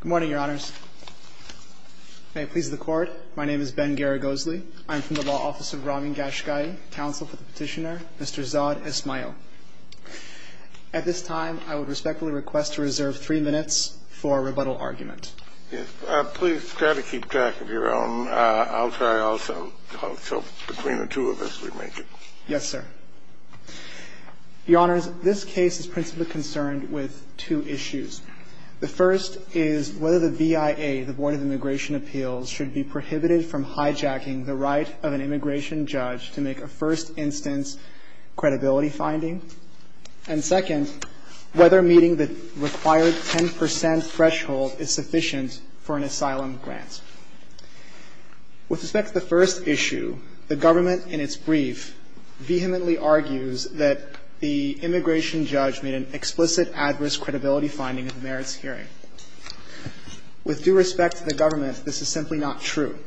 Good morning, Your Honors. May it please the Court, my name is Ben Garagosli. I'm from the Law Office of Ramin Gashgai, Counsel for the Petitioner, Mr. Zadesmaeil. At this time, I would respectfully request to reserve three minutes for a rebuttal argument. Please try to keep track of your own. I'll try also, so between the two of us we make it. Yes, sir. Your Honors, this case is principally concerned with two issues. The first is whether the VIA, the Board of Immigration Appeals, should be prohibited from hijacking the right of an immigration judge to make a first instance credibility finding. And second, whether meeting the required 10 percent threshold is sufficient for an asylum grant. With respect to the first issue, the government in its brief vehemently argues that the immigration judge made an explicit adverse credibility finding in the merits hearing. With due respect to the government, this is simply not true.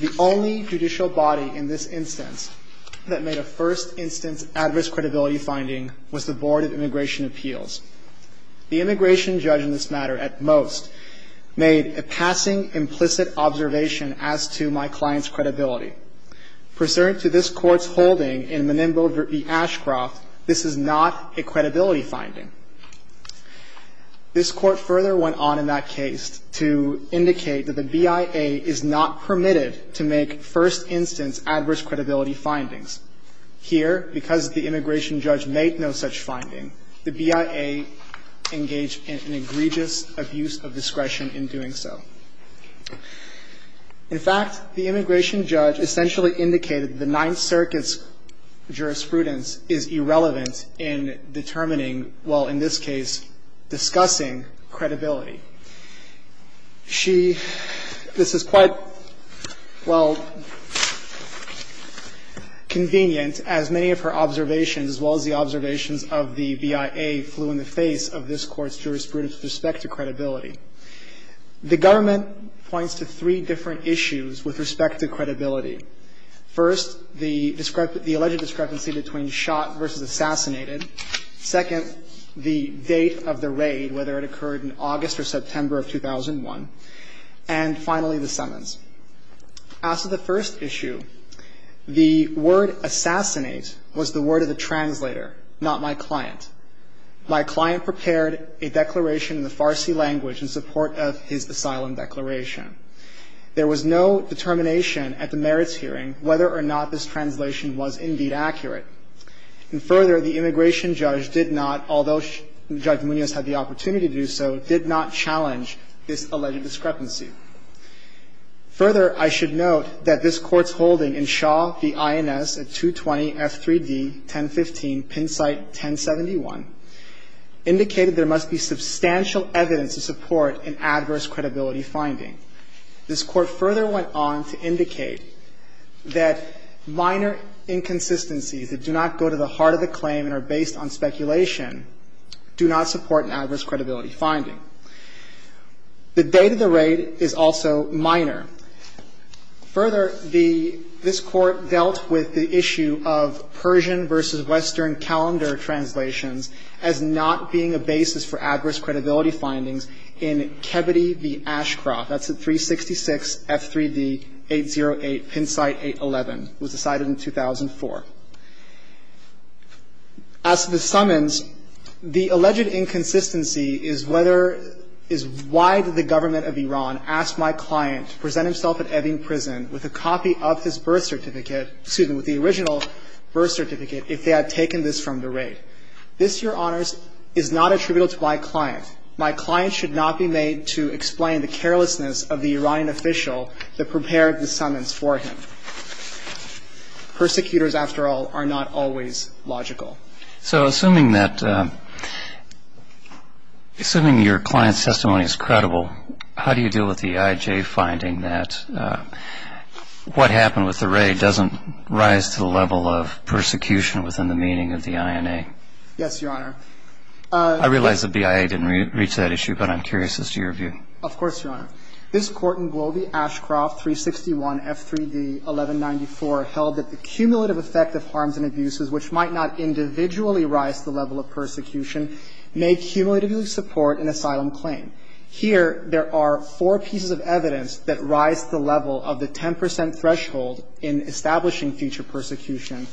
The only judicial body in this instance that made a first instance adverse credibility finding was the Board of Immigration Appeals. The immigration judge in this matter at most made a passing implicit observation as to my client's credibility. Pursuant to this Court's holding in Menembo v. Ashcroft, this is not a credibility finding. This Court further went on in that case to indicate that the VIA is not permitted to make first instance adverse credibility findings. Here, because the immigration judge made no such finding, the VIA engaged in an egregious abuse of discretion in doing so. In fact, the immigration judge essentially indicated the Ninth Circuit's jurisprudence is irrelevant in determining, well, in this case, discussing credibility. She – this is quite, well, convenient as many of her observations as well as the observations of the VIA flew in the face of this Court's jurisprudence with respect to credibility. The government points to three different issues with respect to credibility. First, the alleged discrepancy between shot versus assassinated. Second, the date of the raid, whether it occurred in August or September of 2001. And finally, the summons. As to the first issue, the word assassinate was the word of the translator, not my client. My client prepared a declaration in the Farsi language in support of his asylum declaration. There was no determination at the merits hearing whether or not this translation was indeed accurate. And further, the immigration judge did not, although Judge Munoz had the opportunity to do so, did not challenge this alleged discrepancy. Further, I should note that this Court's holding in Shaw v. INS at 220 F3d 1015, pin site 1071, indicated there must be substantial evidence to support an adverse credibility finding. This Court further went on to indicate that minor inconsistencies that do not go to the heart of the claim and are based on speculation do not support an adverse credibility finding. The date of the raid is also minor. Further, the – this Court dealt with the issue of Persian versus Western calendar translations as not being a basis for adverse credibility findings in Kebede v. Ashcroft. That's at 366 F3d 808, pin site 811. It was decided in 2004. As to the summons, the alleged inconsistency is whether – is why did the government of Iran ask my client to present himself at Evin Prison with a copy of his birth certificate – excuse me, with the original birth certificate if they had taken this from the raid. This, Your Honors, is not attributable to my client. My client should not be made to explain the carelessness of the Iranian official that prepared the summons for him. Persecutors, after all, are not always logical. So assuming that – assuming your client's testimony is credible, how do you deal with the IJ finding that what happened with the raid doesn't rise to the level of persecution within the meaning of the INA? Yes, Your Honor. I realize the BIA didn't reach that issue, but I'm curious as to your view. Of course, Your Honor. This Court in Gwobe Ashcroft 361 F3d 1194 held that the cumulative effect of harms and abuses which might not individually rise to the level of persecution may cumulatively support an asylum claim. Here, there are four pieces of evidence that rise to the level of the 10 percent threshold in establishing future persecution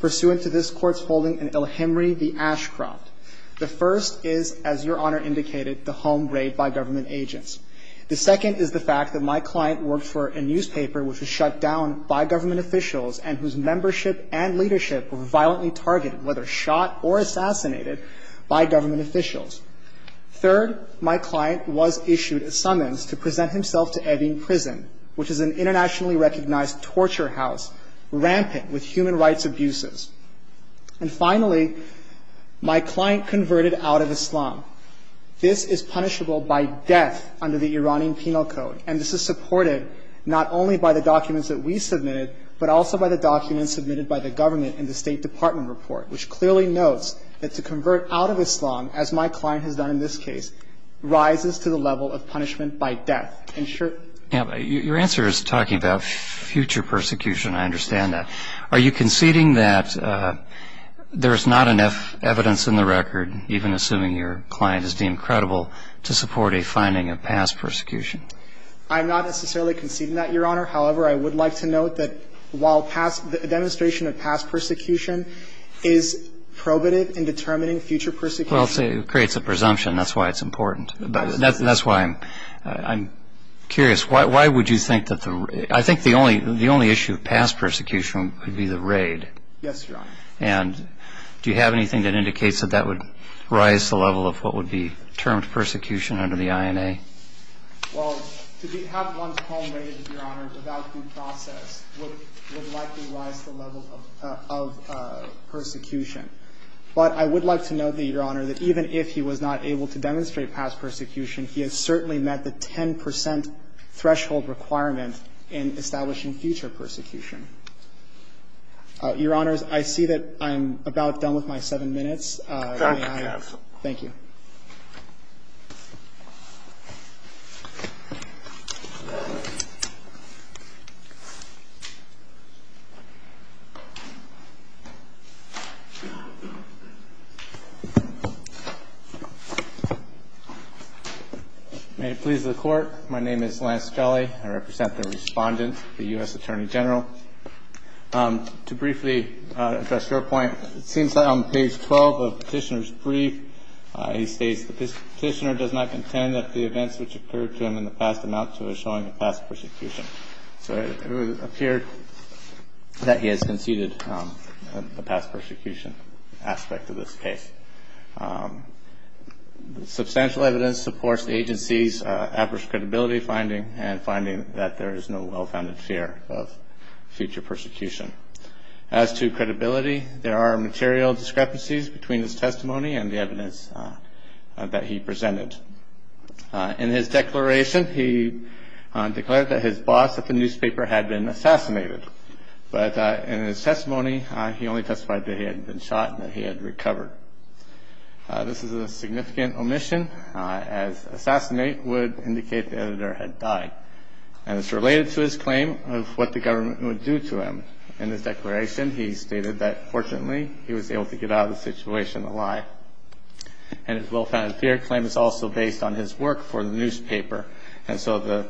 pursuant to this Court's holding in El Hemry v. Ashcroft. The first is, as Your Honor indicated, the home raid by government agents. The second is the fact that my client worked for a newspaper which was shut down by government officials and whose membership and leadership were violently targeted, whether shot or assassinated, by government officials. Third, my client was issued a summons to present himself to Evin Prison, which is an internationally recognized torture house rampant with human rights abuses. And finally, my client converted out of Islam. This is punishable by death under the Iranian penal code. And this is supported not only by the documents that we submitted, but also by the documents submitted by the government in the State Department report, which clearly notes that to convert out of Islam, as my client has done in this case, rises to the level of punishment by death. And sure ---- Your answer is talking about future persecution. I understand that. Are you conceding that there is not enough evidence in the record, even assuming your client is deemed credible, to support a finding of past persecution? I'm not necessarily conceding that, Your Honor. However, I would like to note that while past ---- the demonstration of past persecution is probative in determining future persecution. Well, it creates a presumption. That's why it's important. That's why I'm curious. Why would you think that the ---- I think the only issue of past persecution would be the raid. Yes, Your Honor. And do you have anything that indicates that that would rise to the level of what would be termed persecution under the INA? Well, to have one's home raided, Your Honor, without due process, would likely rise to the level of persecution. But I would like to note that, Your Honor, that even if he was not able to demonstrate past persecution, he has certainly met the 10 percent threshold requirement in establishing future persecution. Your Honors, I see that I'm about done with my seven minutes. Thank you. Thank you. May it please the Court, my name is Lance Kelly. I represent the Respondent, the U.S. Attorney General. To briefly address your point, it seems that on page 12 of Petitioner's brief he states, the Petitioner does not contend that the events which occurred to him in the past amount to a showing of past persecution. So it would appear that he has conceded the past persecution aspect of this case. Substantial evidence supports the agency's average credibility finding and finding that there is no well-founded fear of future persecution. As to credibility, there are material discrepancies between his testimony and the evidence that he presented. In his declaration, he declared that his boss at the newspaper had been assassinated. But in his testimony, he only testified that he had been shot and that he had recovered. This is a significant omission, as assassinate would indicate the editor had died. And it's related to his claim of what the government would do to him. In his declaration, he stated that fortunately he was able to get out of the situation alive. And his well-founded fear claim is also based on his work for the newspaper. And so the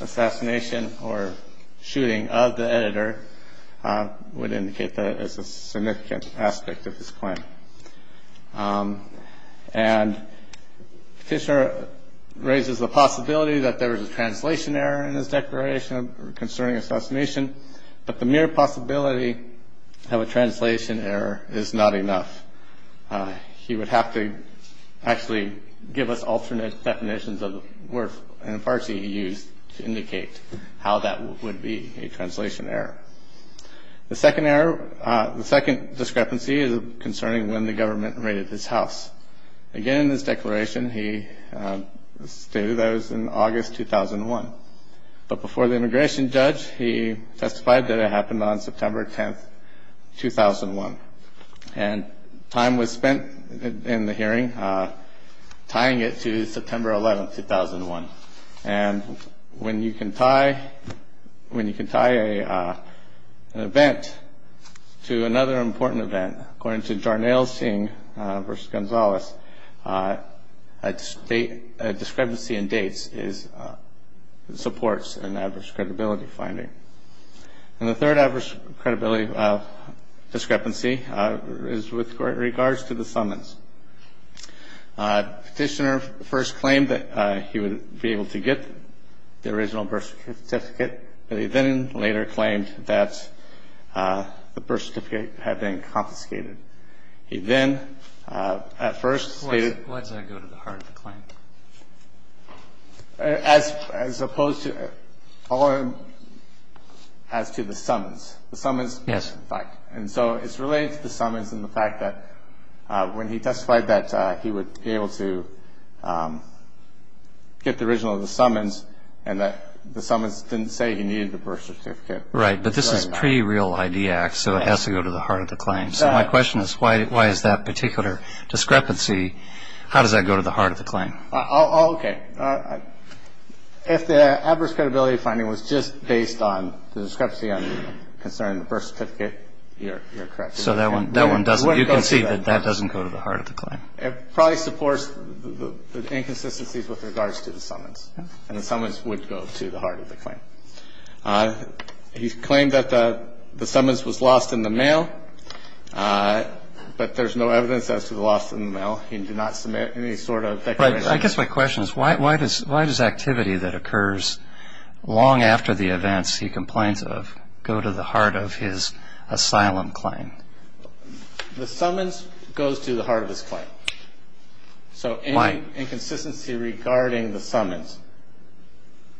assassination or shooting of the editor would indicate that it's a significant aspect of his claim. And Fischer raises the possibility that there is a translation error in his declaration concerning assassination. But the mere possibility of a translation error is not enough. He would have to actually give us alternate definitions of the word and farce he used to indicate how that would be a translation error. The second discrepancy is concerning when the government raided his house. Again, in his declaration, he stated that it was in August 2001. But before the immigration judge, he testified that it happened on September 10, 2001. And time was spent in the hearing tying it to September 11, 2001. And when you can tie an event to another important event, according to Jarnail Singh v. Gonzalez, a discrepancy in dates supports an adverse credibility finding. And the third adverse credibility discrepancy is with regards to the summons. Petitioner first claimed that he would be able to get the original birth certificate, but he then later claimed that the birth certificate had been confiscated. He then at first stated- Why did I go to the heart of the claim? As opposed to- as to the summons. The summons- Yes. Yes, in fact. And so it's related to the summons and the fact that when he testified that he would be able to get the original of the summons and that the summons didn't say he needed the birth certificate. Right. But this is pre-real ID Act, so it has to go to the heart of the claim. So my question is why is that particular discrepancy- how does that go to the heart of the claim? Okay. If the adverse credibility finding was just based on the discrepancy on the concern of the birth certificate, you're correct. So that one doesn't- You can see that that doesn't go to the heart of the claim. It probably supports the inconsistencies with regards to the summons, and the summons would go to the heart of the claim. He claimed that the summons was lost in the mail, but there's no evidence as to the loss in the mail. He did not submit any sort of declaration. Right. I guess my question is why does activity that occurs long after the events he complains of go to the heart of his asylum claim? The summons goes to the heart of his claim. So any inconsistency regarding the summons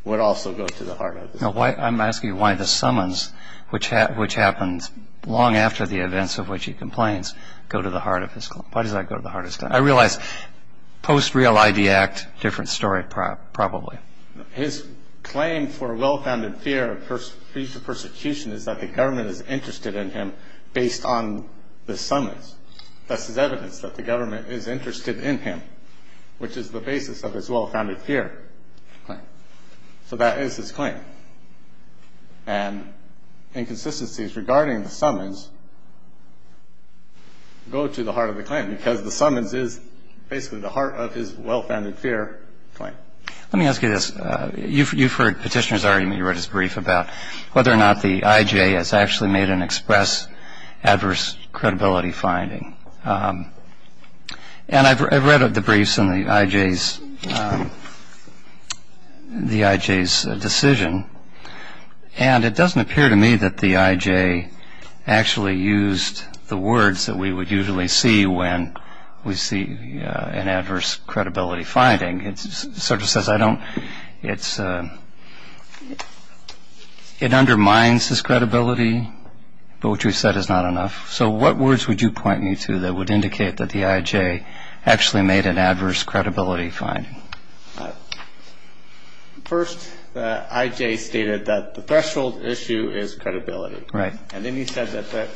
would also go to the heart of his claim. I'm asking you why the summons, which happens long after the events of which he complains, go to the heart of his claim. Why does that go to the heart of his claim? I realize post-real ID Act, different story probably. His claim for well-founded fear of future persecution is that the government is interested in him based on the summons. That's his evidence, that the government is interested in him, which is the basis of his well-founded fear claim. So that is his claim. And inconsistencies regarding the summons go to the heart of the claim because the summons is basically the heart of his well-founded fear claim. Let me ask you this. You've heard Petitioner's argument, you read his brief, about whether or not the IJ has actually made an express adverse credibility finding. And I've read the briefs on the IJ's decision. And it doesn't appear to me that the IJ actually used the words that we would usually see when we see an adverse credibility finding. It undermines his credibility, but what you've said is not enough. So what words would you point me to that would indicate that the IJ actually made an adverse credibility finding? First, the IJ stated that the threshold issue is credibility. Right. And then he said that the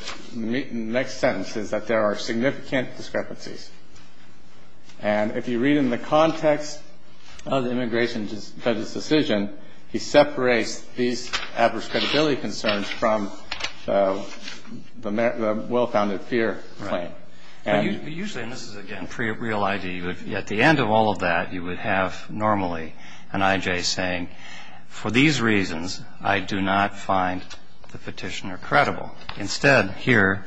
next sentence is that there are significant discrepancies. And if you read in the context of the immigration judge's decision, he separates these adverse credibility concerns from the well-founded fear claim. Right. But usually, and this is, again, pre-real I.D. At the end of all of that, you would have normally an IJ saying, for these reasons, I do not find the petitioner credible. Instead, here,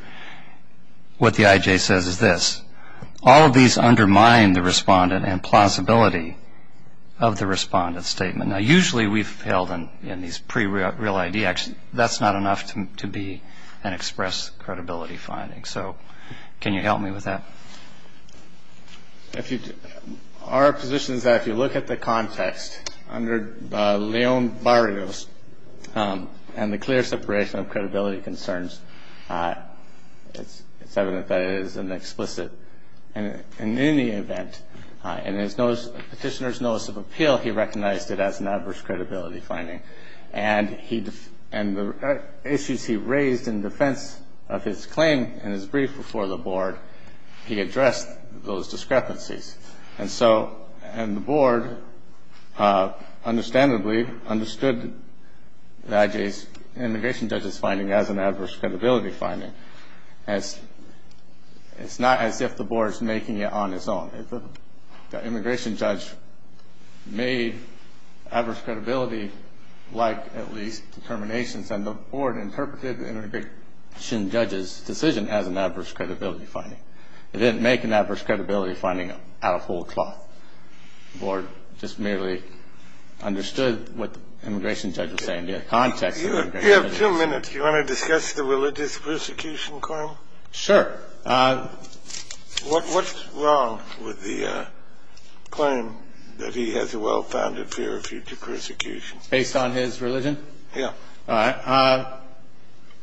what the IJ says is this. All of these undermine the respondent and plausibility of the respondent's statement. Now, usually we've held in these pre-real I.D. Actually, that's not enough to be an express credibility finding. So can you help me with that? Our position is that if you look at the context under Leon Barrios and the clear separation of credibility concerns, it's evident that it is an explicit. And in any event, in the petitioner's notice of appeal, he recognized it as an adverse credibility finding. And the issues he raised in defense of his claim in his brief before the board, he addressed those discrepancies. And so the board understandably understood the IJ's immigration judge's finding as an adverse credibility finding. It's not as if the board is making it on its own. The immigration judge made adverse credibility like at least determinations, and the board interpreted the immigration judge's decision as an adverse credibility finding. It didn't make an adverse credibility finding out of whole cloth. The board just merely understood what the immigration judge was saying in the context of immigration. You have two minutes. Do you want to discuss the religious persecution claim? Sure. What's wrong with the claim that he has a well-founded fear of future persecution? Based on his religion? Yeah. All right.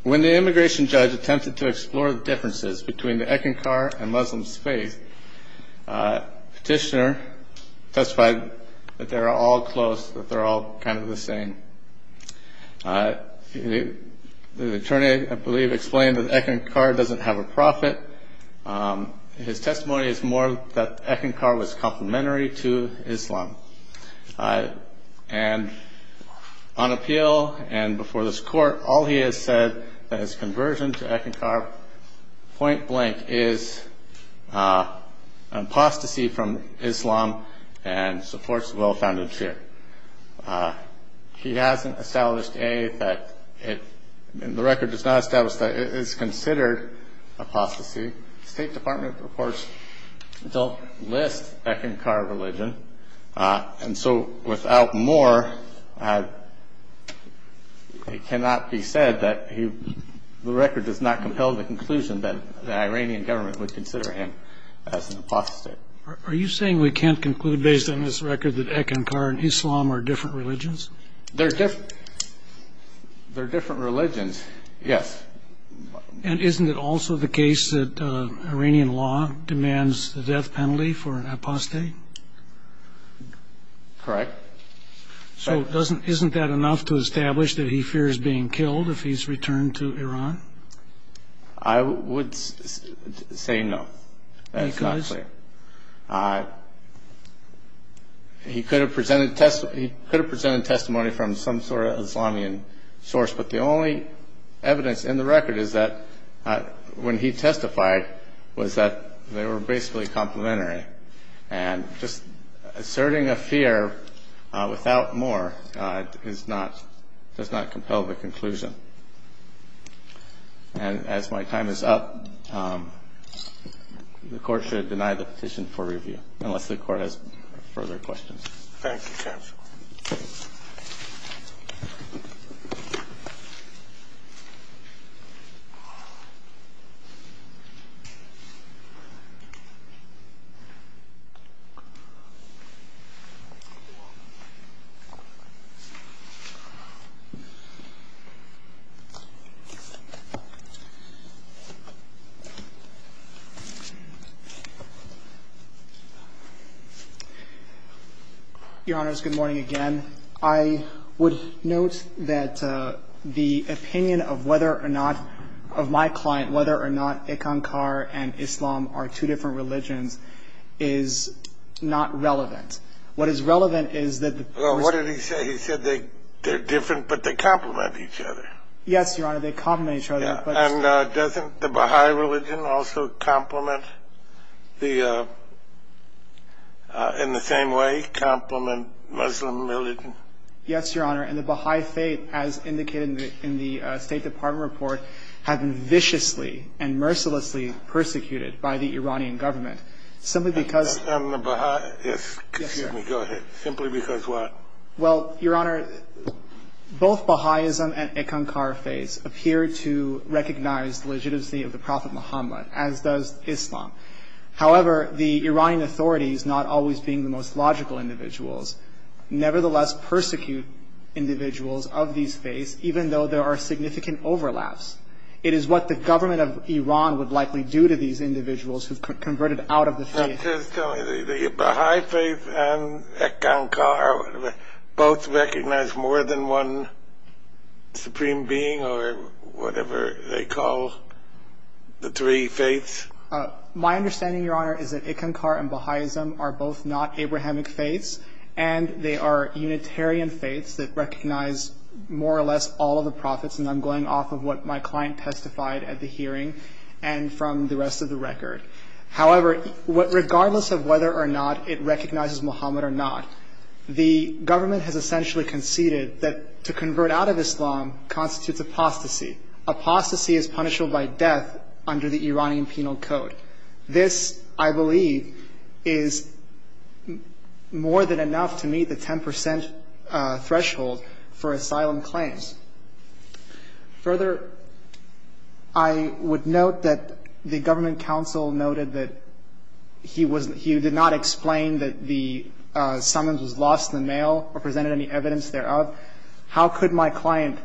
When the immigration judge attempted to explore the differences between the Ekinkar and Muslim faith, petitioner testified that they're all close, that they're all kind of the same. The attorney, I believe, explained that Ekinkar doesn't have a prophet. His testimony is more that Ekinkar was complementary to Islam. And on appeal and before this court, all he has said that his conversion to Ekinkar, point blank, is an apostasy from Islam and supports a well-founded fear. He hasn't established, A, that the record does not establish that it is considered apostasy. State Department reports don't list Ekinkar religion. And so without more, it cannot be said that the record does not compel the conclusion that the Iranian government would consider him as an apostate. Are you saying we can't conclude based on this record that Ekinkar and Islam are different religions? They're different religions, yes. And isn't it also the case that Iranian law demands the death penalty for an apostate? Correct. So isn't that enough to establish that he fears being killed if he's returned to Iran? I would say no. That is not clear. He could have presented testimony from some sort of Islamian source, but the only evidence in the record is that when he testified was that they were basically complementary. And just asserting a fear without more does not compel the conclusion. And as my time is up, the Court should deny the petition for review unless the Court has further questions. Your Honors, good morning again. I would note that the opinion of whether or not, of my client, whether or not Ekinkar and Islam are two different religions is not relevant. What is relevant is that the person... What did he say? He said they're different, but they complement each other. Yes, Your Honor, they complement each other, but... And doesn't the Baha'i religion also complement the... in the same way complement Muslim religion? Yes, Your Honor, and the Baha'i faith, as indicated in the State Department report, have been viciously and mercilessly persecuted by the Iranian government simply because... And the Baha'i... Yes. Excuse me, go ahead. Simply because what? Well, Your Honor, both Baha'i and Ekinkar faiths appear to recognize the legitimacy of the Prophet Muhammad, as does Islam. However, the Iranian authorities, not always being the most logical individuals, nevertheless persecute individuals of these faiths, even though there are significant overlaps. It is what the government of Iran would likely do to these individuals who've converted out of the faith. The Baha'i faith and Ekinkar both recognize more than one supreme being or whatever they call the three faiths? My understanding, Your Honor, is that Ekinkar and Baha'ism are both not Abrahamic faiths, and they are Unitarian faiths that recognize more or less all of the Prophets, and I'm going off of what my client testified at the hearing and from the rest of the record. However, regardless of whether or not it recognizes Muhammad or not, the government has essentially conceded that to convert out of Islam constitutes apostasy. Apostasy is punishable by death under the Iranian penal code. This, I believe, is more than enough to meet the 10% threshold for asylum claims. Further, I would note that the government counsel noted that he did not explain that the summons was lost in the mail or presented any evidence thereof. How could my client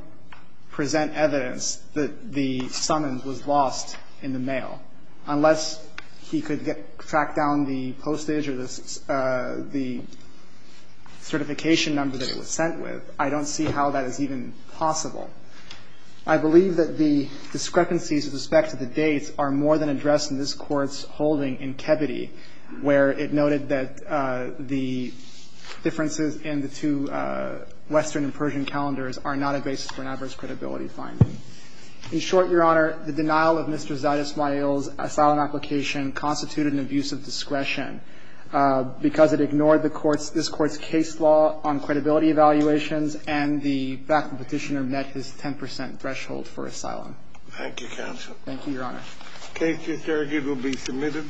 present evidence that the summons was lost in the mail? Unless he could track down the postage or the certification number that it was sent with, I don't see how that is even possible. I believe that the discrepancies with respect to the dates are more than addressed in this Court's holding in Kebede, where it noted that the differences in the two Western and Persian calendars are not a basis for an adverse credibility finding. In short, Your Honor, the denial of Mr. Zaid Ismail's asylum application constituted an abuse of discretion because it ignored the Court's – this Court's case law on persons and the fact the petitioner met his 10% threshold for asylum. Thank you, counsel. Thank you, Your Honor. The case is here. It will be submitted.